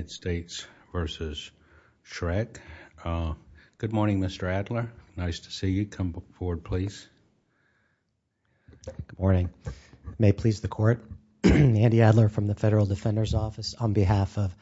Good morning. May it please the Court, Andy Adler from the Federal Defender's Office on behalf of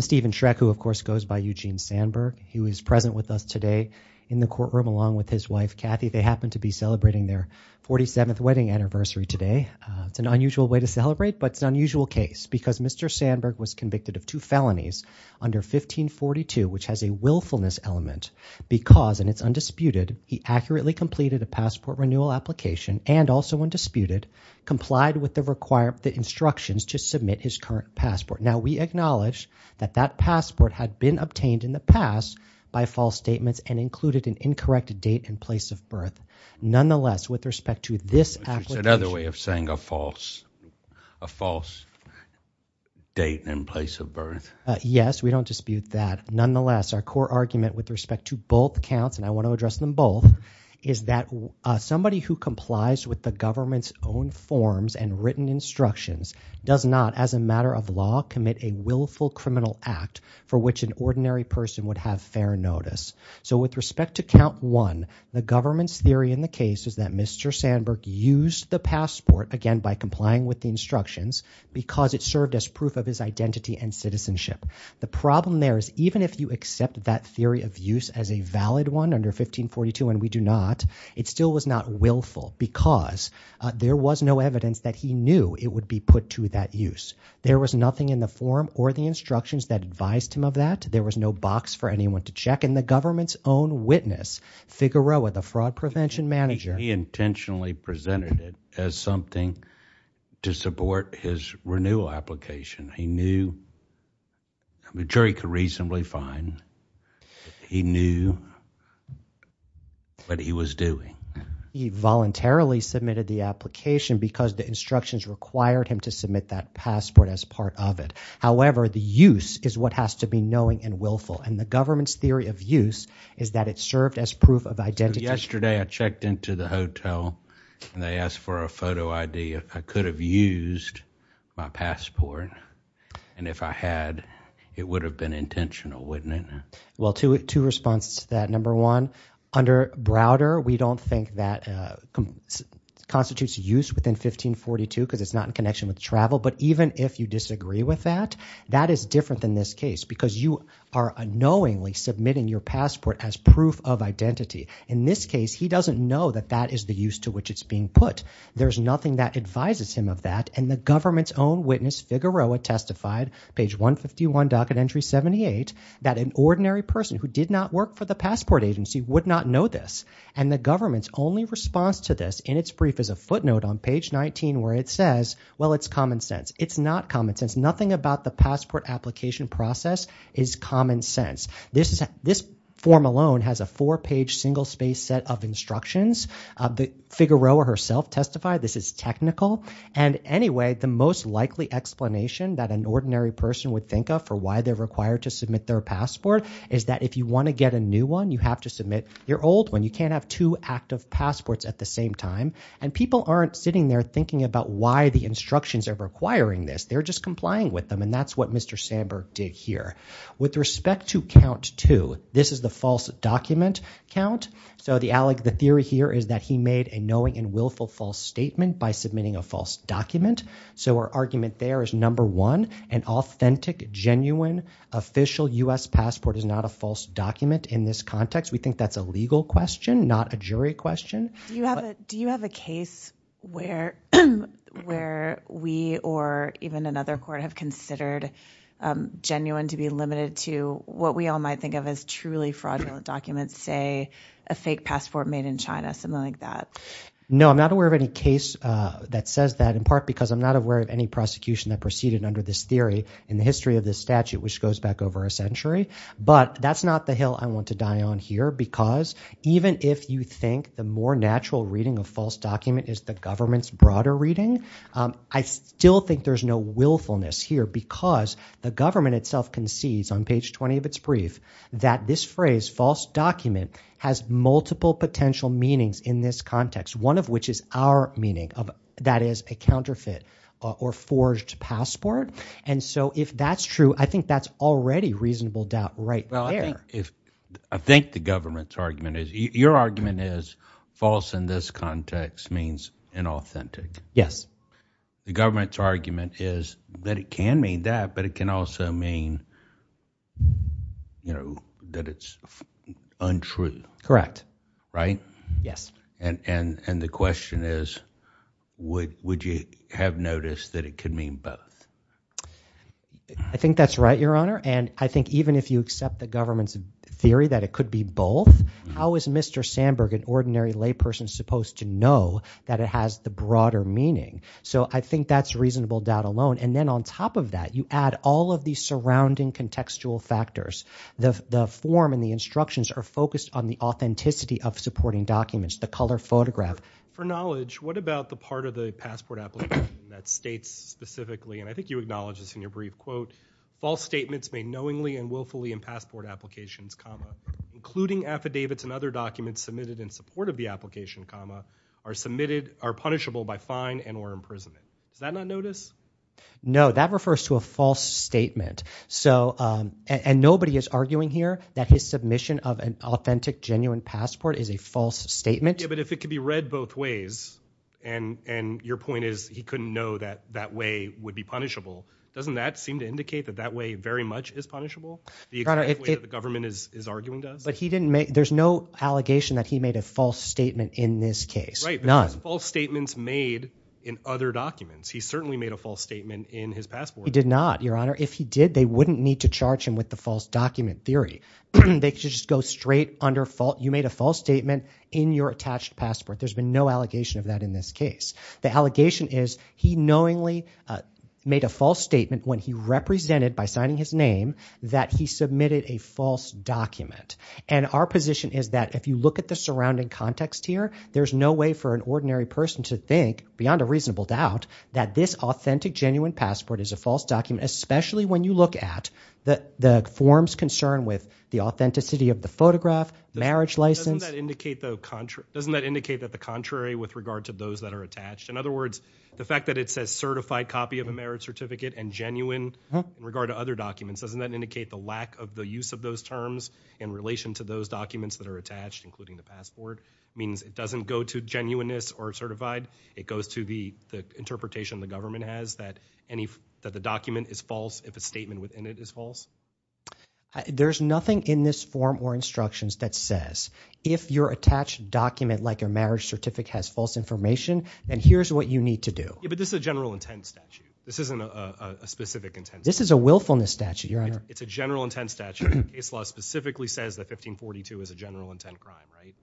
Steven Schreck, who, of course, goes by Eugene Sandberg. He was present with us today in the courtroom along with his wife, Kathy. They happen to be celebrating their 47th wedding anniversary today. It's an unusual way to celebrate, but it's an unusual case because Mr. Sandberg was convicted of two felonies under 1542, which has a willfulness element, because, and it's undisputed, he accurately completed a passport renewal application and, also undisputed, complied with the instructions to submit his current passport. Now, we acknowledge that that passport had been obtained in the past by false statements and included an incorrect date and place of birth. Nonetheless, with respect to this application— Andy Adler Yes, we don't dispute that. Nonetheless, our core argument with respect to both counts, and I want to address them both, is that somebody who complies with the government's own forms and written instructions does not, as a matter of law, commit a willful criminal act for which an ordinary person would have fair notice. So with respect to count one, the government's theory in the case is that Mr. Sandberg used the passport, again, by complying with the instructions, because it served as proof of his identity and citizenship. The problem there is even if you accept that theory of use as a valid one under 1542, and we do not, it still was not willful because there was no evidence that he knew it would be put to that use. There was nothing in the form or the instructions that advised him of that. There was no box for anyone to check, and the government's own witness, Figueroa, the fraud prevention manager— He intentionally presented it as something to support his renewal application. He knew, I'm sure he could reasonably find, he knew what he was doing. He voluntarily submitted the application because the instructions required him to submit that passport as part of it. However, the use is what has to be knowing and willful, and the government's theory of use is that it served as proof of identity— Yesterday, I checked into the hotel, and they asked for a photo ID. I could have used my passport, and if I had, it would have been intentional, wouldn't it? Well, two responses to that. Number one, under Browder, we don't think that constitutes use within 1542 because it's not in connection with travel, but even if you disagree with that, that is different than this case because you are unknowingly submitting your passport as proof of identity. In this case, he doesn't know that that is the use to which it's being put. There's nothing that advises him of that, and the government's own witness, Figueroa, testified—page 151, docket entry 78—that an ordinary person who did not work for the passport agency would not know this, and the government's only response to this in its brief is a footnote on page 19 where it says, well, it's common sense. It's not common sense. This application process is common sense. This form alone has a four-page, single-space set of instructions. Figueroa herself testified this is technical, and anyway, the most likely explanation that an ordinary person would think of for why they're required to submit their passport is that if you want to get a new one, you have to submit your old one. You can't have two active passports at the same time, and people aren't sitting there thinking about why the instructions are requiring this. They're just complying with them, and that's what Mr. Sandberg did here. With respect to count two, this is the false document count, so the theory here is that he made a knowing and willful false statement by submitting a false document, so our argument there is, number one, an authentic, genuine, official U.S. passport is not a false document in this context. We think that's a legal question, not a jury question. Do you have a case where we or even another court have considered genuine to be limited to what we all might think of as truly fraudulent documents, say a fake passport made in China, something like that? No, I'm not aware of any case that says that, in part because I'm not aware of any prosecution that proceeded under this theory in the history of this statute, which goes back over a century, but that's not the hill I want to die on here because even if you think the more natural reading of false document is the government's broader reading, I still think there's no willfulness here because the government itself concedes on page 20 of its brief that this phrase false document has multiple potential meanings in this context, one of which is our meaning, that is a counterfeit or forged passport, and so if that's true, I think that's already reasonable doubt right there. I think the government's argument is, your argument is false in this context means inauthentic. Yes. The government's argument is that it can mean that, but it can also mean that it's untrue. Correct. Right? Yes. And the question is, would you have noticed that it could mean both? I think that's right, your honor, and I think even if you accept the government's theory that it could be both, how is Mr. Sandberg, an ordinary layperson, supposed to know that it has the broader meaning? So I think that's reasonable doubt alone, and then on top of that, you add all of these surrounding contextual factors. The form and the instructions are focused on the authenticity of supporting documents, the color photograph. For knowledge, what about the part of the passport application that states specifically, and I think you acknowledge this in your brief quote, false statements made knowingly and willfully in passport applications, comma, including affidavits and other documents submitted in support of the application, comma, are submitted, are punishable by fine and or imprisonment. Does that not notice? No, that refers to a false statement, and nobody is arguing here that his submission of an authentic, genuine passport is a false statement. Yeah, but if it could be read both ways, and your point is he couldn't know that that way would be punishable, doesn't that seem to indicate that that way very much is punishable? The exact way that the government is arguing does? But he didn't make, there's no allegation that he made a false statement in this case. Right, because false statements made in other documents. He certainly made a false statement in his passport. He did not, your honor. If he did, they wouldn't need to charge him with the false document theory. They could just go straight under, you made a false statement in your attached passport. There's been no allegation of that in this case. The allegation is he knowingly made a false statement when he represented by signing his name that he submitted a false document. And our position is that if you look at the surrounding context here, there's no way for an ordinary person to think, beyond a reasonable doubt, that this authentic, genuine passport is a false document, especially when you look at the form's concern with the authenticity of the photograph, marriage license. Doesn't that indicate that the contrary with regard to those that are attached? In other words, the fact that it says certified copy of a marriage certificate and genuine in regard to other documents, doesn't that indicate the lack of the use of those terms in relation to those documents that are attached, including the passport? Means it doesn't go to genuineness or certified. It goes to the interpretation the government has that the document is false if a statement within it is false? There's nothing in this form or instructions that says, if your attached document like your marriage certificate has false information, then here's what you need to do. Yeah, but this is a general intent statute. This isn't a specific intent statute. This is a willfulness statute, your honor. It's a general intent statute. The case law specifically says that 1542 is a general intent crime, right?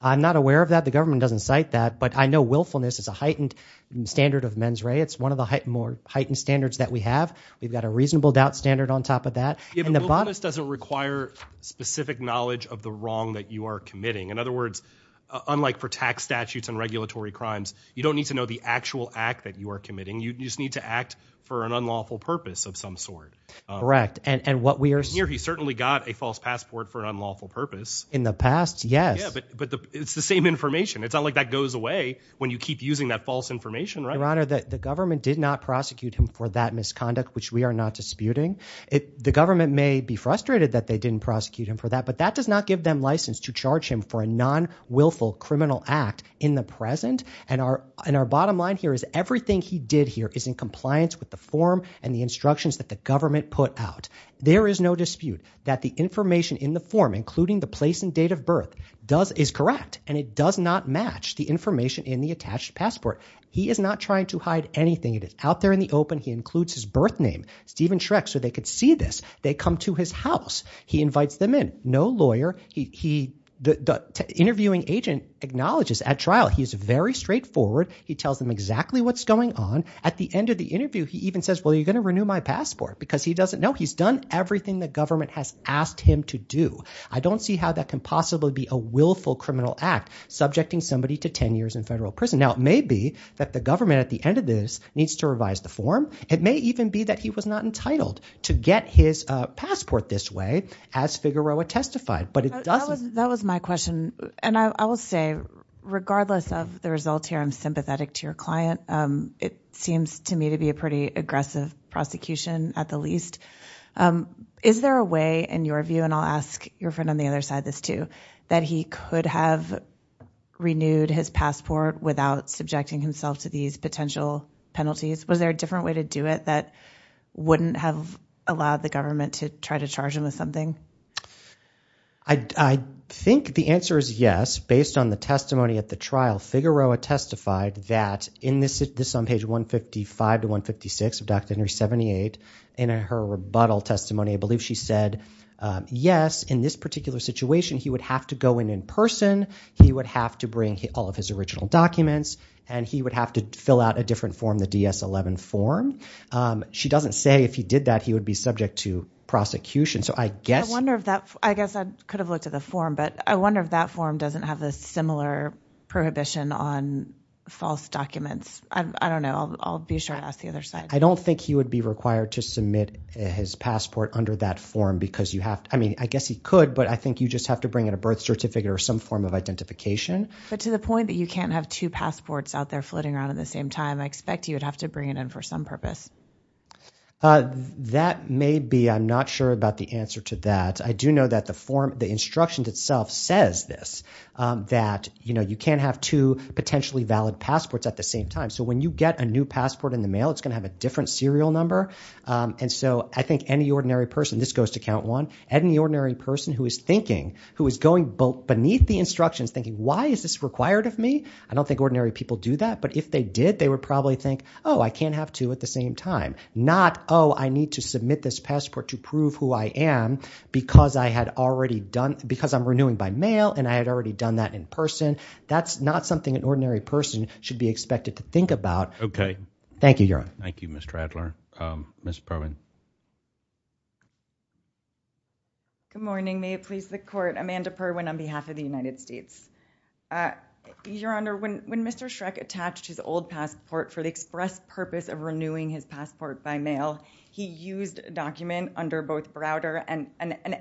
I'm not aware of that. The government doesn't cite that. But I know willfulness is a heightened standard of mens rea. It's one of the more heightened standards that we have. We've got a reasonable doubt standard on top of that. Yeah, but willfulness doesn't require specific knowledge of the wrong that you are committing. In other words, unlike for tax statutes and regulatory crimes, you don't need to know the actual act that you are committing. You just need to act for an unlawful purpose of some sort. Correct. And what we are seeing here, he certainly got a false passport for an unlawful purpose. In the past, yes. Yeah, but it's the same information. It's not like that goes away when you keep using that false information, right? Your Honor, the government did not prosecute him for that misconduct, which we are not disputing. The government may be frustrated that they didn't prosecute him for that. But that does not give them license to charge him for a non-wilful criminal act in the present. And our bottom line here is everything he did here is in compliance with the form and the instructions that the government put out. There is no dispute that the information in the form, including the place and date of birth, is correct. And it does not match the information in the attached passport. He is not trying to hide anything. It is out there in the open. He includes his birth name, Stephen Schreck, so they could see this. They come to his house. He invites them in. No lawyer. The interviewing agent acknowledges at trial he is very straightforward. He tells them exactly what's going on. At the end of the interview, he even says, well, you're going to renew my passport because he doesn't know. He's done everything the government has asked him to do. I don't see how that can possibly be a willful criminal act, subjecting somebody to 10 years in federal prison. Now, it may be that the government at the end of this needs to revise the form. It may even be that he was not entitled to get his passport this way, as Figueroa testified. But it doesn't... That was my question. And I will say, regardless of the results here, I'm sympathetic to your client. It seems to me to be a pretty aggressive prosecution, at the least. Is there a way, in your view, and I'll ask your friend on the other side this too, that he could have renewed his passport without subjecting himself to these potential penalties? Was there a different way to do it that wouldn't have allowed the government to try to charge him with something? I think the answer is yes. Based on the testimony at the trial, Figueroa testified that, this is on page 155 to 156 of Doctrine and Covenants 78, in her rebuttal testimony, I believe she said, yes, in this particular situation, he would have to go in in person, he would have to bring all of his original documents, and he would have to fill out a different form, the DS-11 form. She doesn't say if he did that, he would be subject to prosecution. So I guess... I wonder if that... I guess I could have looked at the form, but I wonder if that form doesn't have a similar prohibition on false documents. I don't know. I'll be sure to ask the other side. I don't think he would be required to submit his passport under that form, because you I guess he could, but I think you just have to bring in a birth certificate or some form of identification. But to the point that you can't have two passports out there floating around at the same time, I expect you would have to bring it in for some purpose. That may be. I'm not sure about the answer to that. I do know that the form, the instructions itself says this, that you can't have two potentially valid passports at the same time. So when you get a new passport in the mail, it's going to have a different serial number. And so I think any ordinary person, this goes to count one, any ordinary person who is thinking, who is going beneath the instructions thinking, why is this required of me? I don't think ordinary people do that. But if they did, they would probably think, oh, I can't have two at the same time. Not oh, I need to submit this passport to prove who I am because I had already done... Because I'm renewing by mail, and I had already done that in person. That's not something an ordinary person should be expected to think about. Thank you, Your Honor. Thank you, Mr. Adler. Ms. Perwin. Good morning. May it please the Court. Amanda Perwin on behalf of the United States. Your Honor, when Mr. Shrek attached his old passport for the express purpose of renewing his passport by mail, he used a document under both Browder and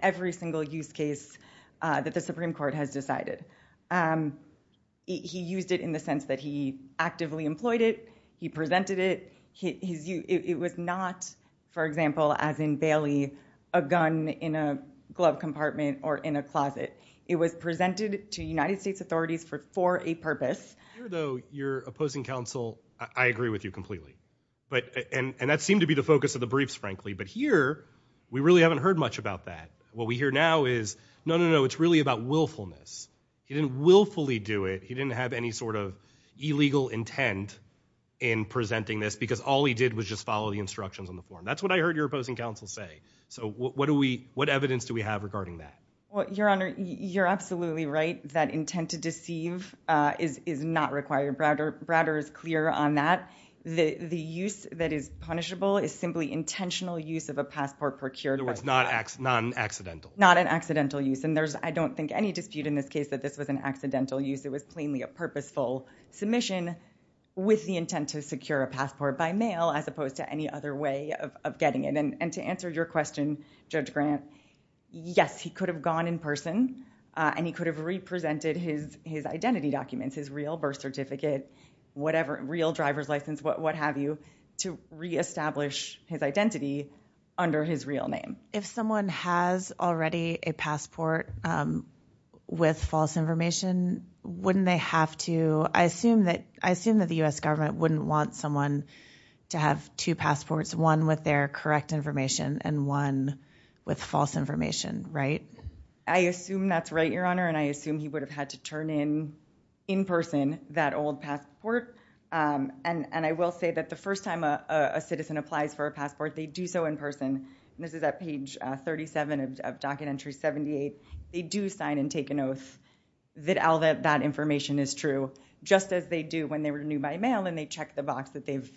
every single use case that the Supreme Court has decided. He used it in the sense that he actively employed it. He presented it. It was not, for example, as in Bailey, a gun in a glove compartment or in a closet. It was presented to United States authorities for a purpose. Here, though, your opposing counsel, I agree with you completely. And that seemed to be the focus of the briefs, frankly. But here, we really haven't heard much about that. What we hear now is, no, no, no, it's really about willfulness. He didn't willfully do it. He didn't have any sort of illegal intent in presenting this, because all he did was just follow the instructions on the form. That's what I heard your opposing counsel say. So, what evidence do we have regarding that? Well, your Honor, you're absolutely right. That intent to deceive is not required. Browder is clear on that. The use that is punishable is simply intentional use of a passport procured by— In other words, not accidental. Not an accidental use. And there's, I don't think, any dispute in this case that this was an accidental use. It was plainly a purposeful submission with the intent to secure a passport by mail, as opposed to any other way of getting it. And to answer your question, Judge Grant, yes, he could have gone in person, and he could have represented his identity documents, his real birth certificate, whatever, real driver's license, what have you, to reestablish his identity under his real name. If someone has already a passport with false information, wouldn't they have to— I assume that the U.S. government wouldn't want someone to have two passports, one with their correct information and one with false information, right? I assume that's right, your Honor, and I assume he would have had to turn in, in person, that old passport. And I will say that the first time a citizen applies for a passport, they do so in person. This is at page 37 of Docket Entry 78. They do sign and take an oath that all that information is true, just as they do when they renew by mail, and they check the box that they've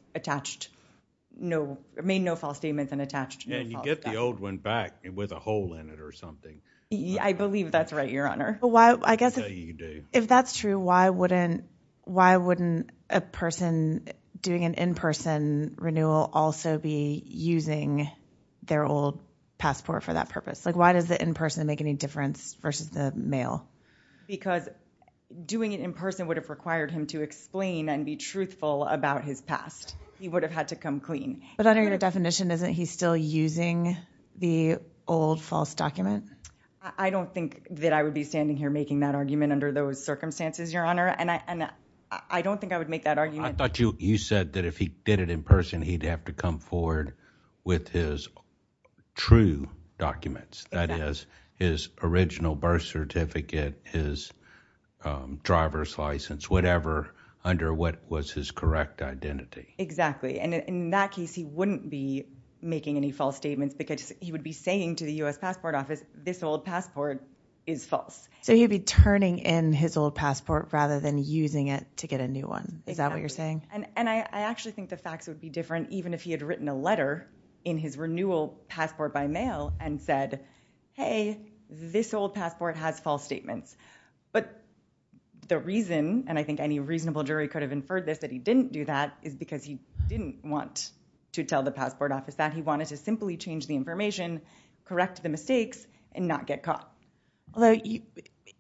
made no false statements and attached— Yeah, you get the old one back with a hole in it or something. Yeah, I believe that's right, your Honor. I guess if that's true, why wouldn't a person doing an in-person renewal also be using their old passport for that purpose? Like, why does the in-person make any difference versus the mail? Because doing it in person would have required him to explain and be truthful about his past. He would have had to come clean. But under your definition, isn't he still using the old false document? I don't think that I would be standing here making that argument under those circumstances, your Honor, and I don't think I would make that argument. I thought you said that if he did it in person, he'd have to come forward with his true documents, that is, his original birth certificate, his driver's license, whatever, under what was his correct identity. Exactly, and in that case, he wouldn't be making any false statements because he would be saying to the U.S. Passport Office, this old passport is false. So he'd be turning in his old passport rather than using it to get a new one. Is that what you're saying? And I actually think the facts would be different even if he had written a letter in his renewal passport by mail and said, hey, this old passport has false statements. But the reason, and I think any reasonable jury could have inferred this, that he didn't do that is because he didn't want to tell the Passport Office that he wanted to simply change the information, correct the mistakes, and not get caught. Although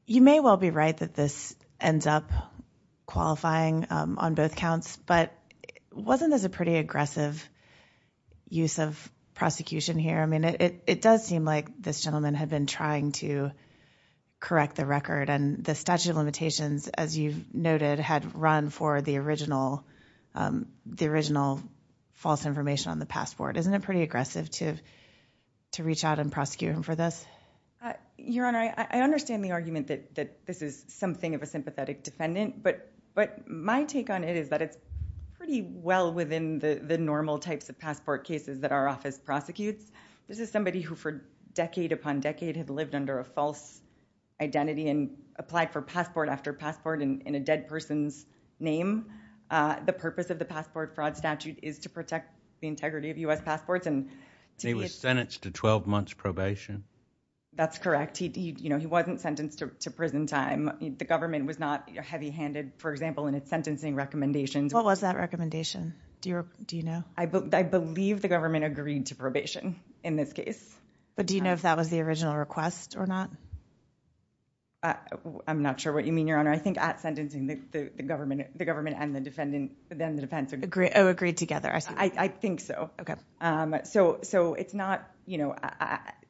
you may well be right that this ends up qualifying on both counts, but wasn't this a pretty aggressive use of prosecution here? I mean, it does seem like this gentleman had been trying to correct the record and the statute of limitations, as you've noted, had run for the original false information on the passport. Isn't it pretty aggressive to reach out and prosecute him for this? Your Honor, I understand the argument that this is something of a sympathetic defendant, but my take on it is that it's pretty well within the normal types of passport cases that our office prosecutes. This is somebody who, for decade upon decade, had lived under a false identity and applied for passport after passport in a dead person's name. The purpose of the passport fraud statute is to protect the integrity of U.S. passports. He was sentenced to 12 months probation? That's correct. He wasn't sentenced to prison time. The government was not heavy-handed, for example, in its sentencing recommendations. What was that recommendation? Do you know? I believe the government agreed to probation in this case. Do you know if that was the original request or not? I'm not sure what you mean, Your Honor. I think at sentencing, the government and the defendant, then the defense, agreed. Oh, agreed together, I see. I think so. So, it's not, you know,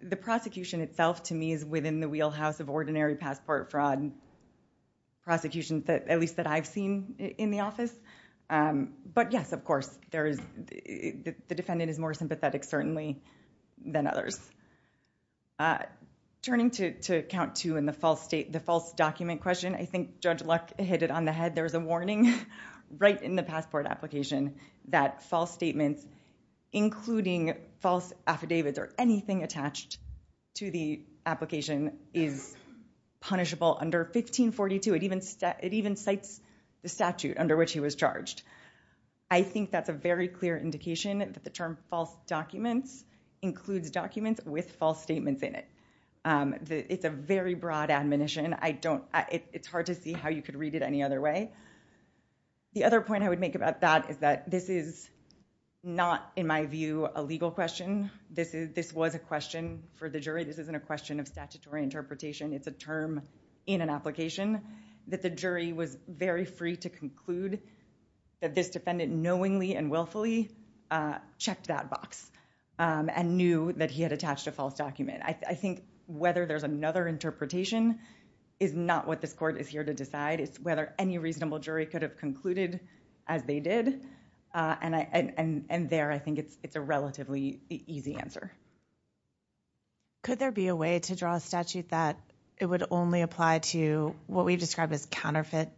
the prosecution itself, to me, is within the wheelhouse of ordinary passport fraud prosecutions, at least that I've seen in the office. But yes, of course, the defendant is more sympathetic, certainly, than others. Turning to count two in the false state, the false document question, I think Judge Luck hit it on the head. There's a warning right in the passport application that false statements, including false affidavits or anything attached to the application, is punishable under 1542. It even cites the statute under which he was charged. I think that's a very clear indication that the term false documents includes documents with false statements in it. It's a very broad admonition. I don't, it's hard to see how you could read it any other way. The other point I would make about that is that this is not, in my view, a legal question. This was a question for the jury. This isn't a question of statutory interpretation. It's a term in an application that the jury was very free to conclude that this defendant knowingly and willfully checked that box and knew that he had attached a false document. I think whether there's another interpretation is not what this court is here to decide. It's whether any reasonable jury could have concluded as they did, and there I think it's a relatively easy answer. Could there be a way to draw a statute that it would only apply to what we describe as counterfeit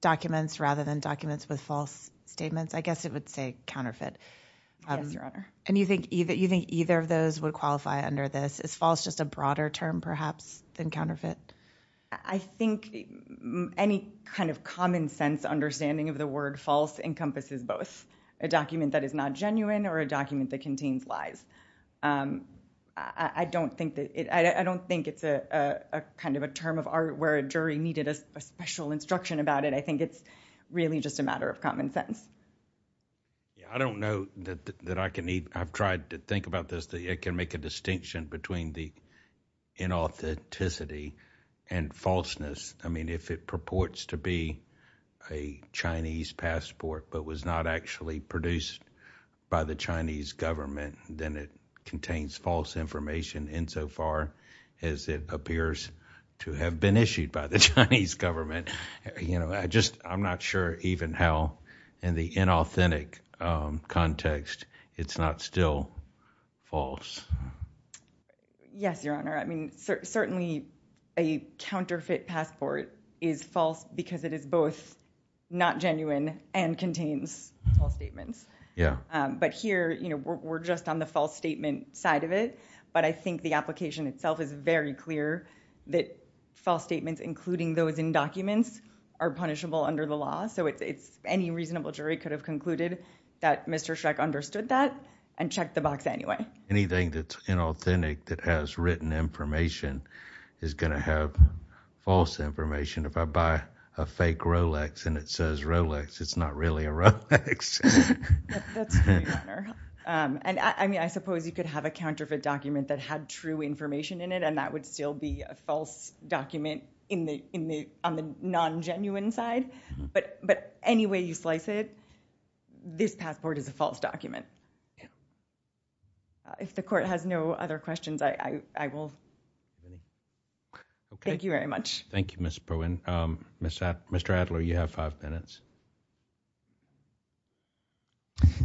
documents rather than documents with false statements? I guess it would say counterfeit. And you think either of those would qualify under this? Is false just a broader term perhaps than counterfeit? I think any kind of common sense understanding of the word false encompasses both. A document that is not genuine or a document that contains lies. I don't think it's a kind of a term of art where a jury needed a special instruction about it. I think it's really just a matter of common sense. I don't know that I can even, I've tried to think about this, it can make a distinction between the inauthenticity and falseness. I mean, if it purports to be a Chinese passport but was not actually produced by the Chinese government, then it contains false information insofar as it appears to have been issued by the Chinese government. You know, I just, I'm not sure even how in the inauthentic context it's not still false. Yes, your honor. I mean, certainly a counterfeit passport is false because it is both not genuine and contains false statements. Yeah. But here, you know, we're just on the false statement side of it, but I think the application itself is very clear that false statements, including those in documents, are punishable under the law. So it's, any reasonable jury could have concluded that Mr. Schreck understood that and checked the box anyway. Anything that's inauthentic that has written information is going to have false information. If I buy a fake Rolex and it says Rolex, it's not really a Rolex. That's true, your honor. And I mean, I suppose you could have a counterfeit document that had true information in it and that would still be a false document on the non-genuine side. But any way you slice it, this passport is a false document. If the court has no other questions, I will. Thank you very much. Thank you, Ms. Perwin. Mr. Adler, you have five minutes.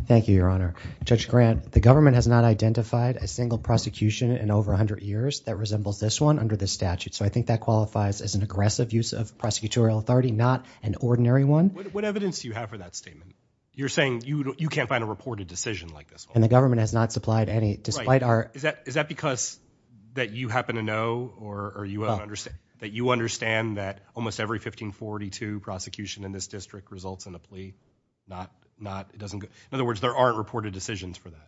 Thank you, your honor. Judge Grant, the government has not identified a single prosecution in over 100 years that resembles this one under the statute. So I think that qualifies as an aggressive use of prosecutorial authority, not an ordinary one. What evidence do you have for that statement? You're saying you can't find a reported decision like this one? And the government has not supplied any, despite our... Is that because that you happen to know or you understand that almost every 1542 prosecution in this district results in a plea? In other words, there aren't reported decisions for that?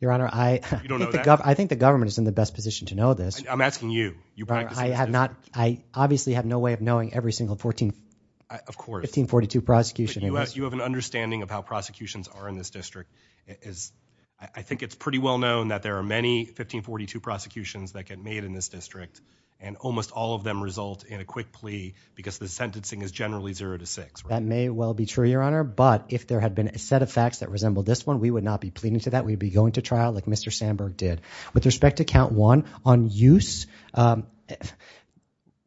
Your honor, I think the government is in the best position to know this. I'm asking you. I obviously have no way of knowing every single 1542 prosecution. You have an understanding of how prosecutions are in this district. I think it's pretty well known that there are many 1542 prosecutions that get made in this district, and almost all of them result in a quick plea because the sentencing is generally zero to six. That may well be true, your honor. But if there had been a set of facts that resembled this one, we would not be pleading to that. We'd be going to trial like Mr. Sandberg did. With respect to count one, on use,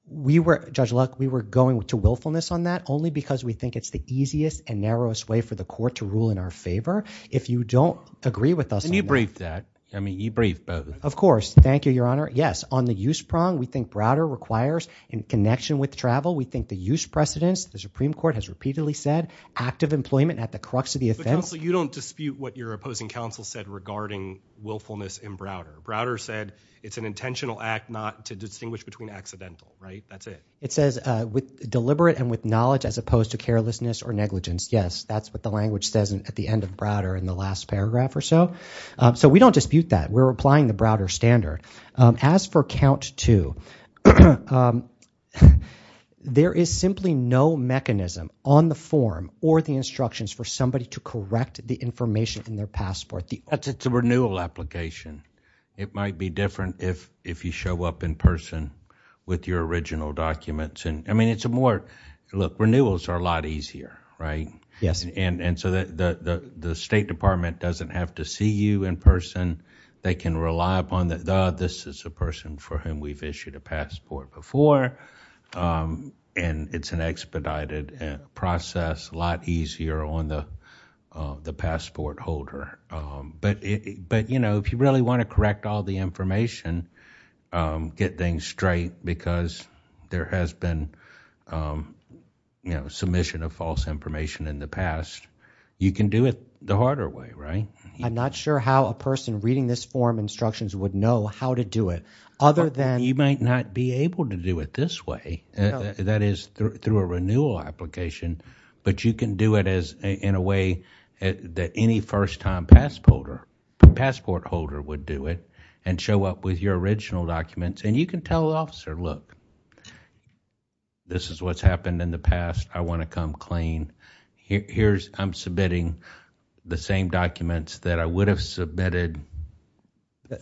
we were, Judge Luck, we were going to willfulness on that only because we think it's the easiest and narrowest way for the court to rule in our favor. If you don't agree with us on that... Can you brief that? I mean, you briefed both. Of course. Thank you, your honor. Yes, on the use prong, we think Browder requires in connection with travel. We think the use precedence, the Supreme Court has repeatedly said, active employment at the crux of the offense... But counsel, you don't dispute what your opposing counsel said regarding willfulness in Browder. Browder said it's an intentional act not to distinguish between accidental, right? That's it. It says with deliberate and with knowledge as opposed to carelessness or negligence. Yes, that's what the language says at the end of Browder in the last paragraph or so. So we don't dispute that. We're applying the Browder standard. As for count two, there is simply no mechanism on the form or the instructions for somebody to correct the information in their passport. It's a renewal application. It might be different if you show up in person with your original documents. And I mean, it's a more, look, renewals are a lot easier, right? Yes. And so the State Department doesn't have to see you in person. They can rely upon the, this is a person for whom we've issued a passport before. And it's an expedited process, a lot easier on the passport holder. But if you really want to correct all the information, get things straight, because there has been submission of false information in the past. You can do it the harder way, right? I'm not sure how a person reading this form instructions would know how to do it. Other than- You might not be able to do it this way, that is, through a renewal application. But you can do it in a way that any first-time passport holder would do it. And show up with your original documents. And you can tell the officer, look, this is what's happened in the past. I want to come clean. Here's, I'm submitting the same documents that I would have submitted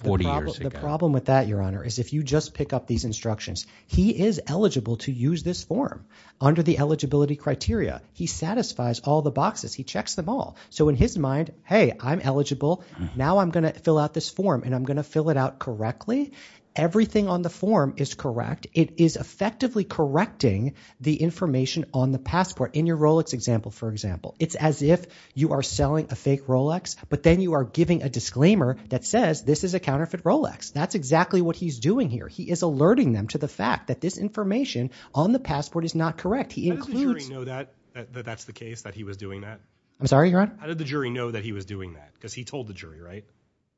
40 years ago. The problem with that, Your Honor, is if you just pick up these instructions. He is eligible to use this form under the eligibility criteria. He satisfies all the boxes. He checks them all. So in his mind, hey, I'm eligible. Now I'm going to fill out this form, and I'm going to fill it out correctly. Everything on the form is correct. It is effectively correcting the information on the passport. In your Rolex example, for example, it's as if you are selling a fake Rolex. But then you are giving a disclaimer that says, this is a counterfeit Rolex. That's exactly what he's doing here. He is alerting them to the fact that this information on the passport is not correct. He includes... How did the jury know that that's the case, that he was doing that? I'm sorry, Your Honor? How did the jury know that he was doing that? Because he told the jury, right?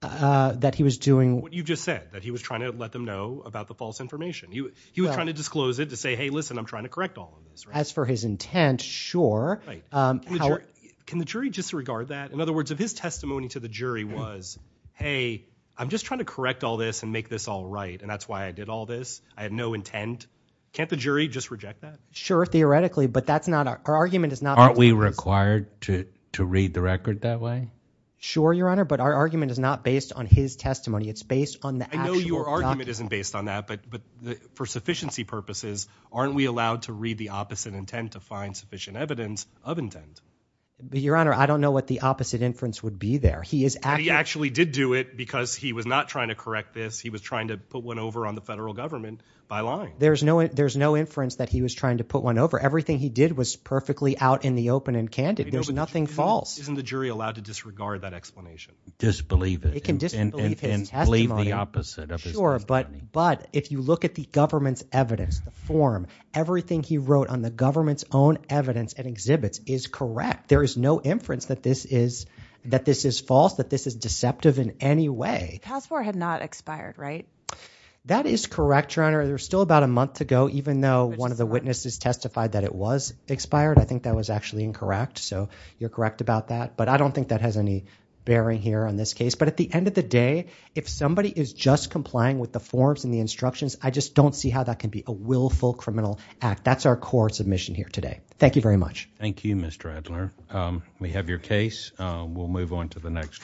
That he was doing... What you just said, that he was trying to let them know about the false information. He was trying to disclose it to say, hey, listen, I'm trying to correct all of this. As for his intent, sure. Can the jury disregard that? In other words, if his testimony to the jury was, hey, I'm just trying to correct all this and make this all right, and that's why I did all this, I had no intent, can't the jury just reject that? Sure, theoretically. But that's not... Our argument is not... Aren't we required to read the record that way? Sure, Your Honor, but our argument is not based on his testimony. It's based on the actual document. I know your argument isn't based on that, but for sufficiency purposes, aren't we allowed to read the opposite intent to find sufficient evidence of intent? Your Honor, I don't know what the opposite inference would be there. He is actually... He actually did do it because he was not trying to correct this. He was trying to put one over on the federal government by lying. There's no inference that he was trying to put one over. Everything he did was perfectly out in the open and candid. There's nothing false. Isn't the jury allowed to disregard that explanation? Disbelieve it. It can disbelieve his testimony. And believe the opposite of his testimony. Sure, but if you look at the government's evidence, the form, everything he wrote on the government's own evidence and exhibits is correct. There is no inference that this is false, that this is deceptive in any way. Passport had not expired, right? That is correct, Your Honor. There's still about a month to go, even though one of the witnesses testified that it was expired. I think that was actually incorrect, so you're correct about that. But I don't think that has any bearing here on this case. But at the end of the day, if somebody is just complying with the forms and the instructions, I just don't see how that can be a willful criminal act. That's our core submission here today. Thank you very much. Thank you, Mr. Adler. We have your case. We'll move on to the next one.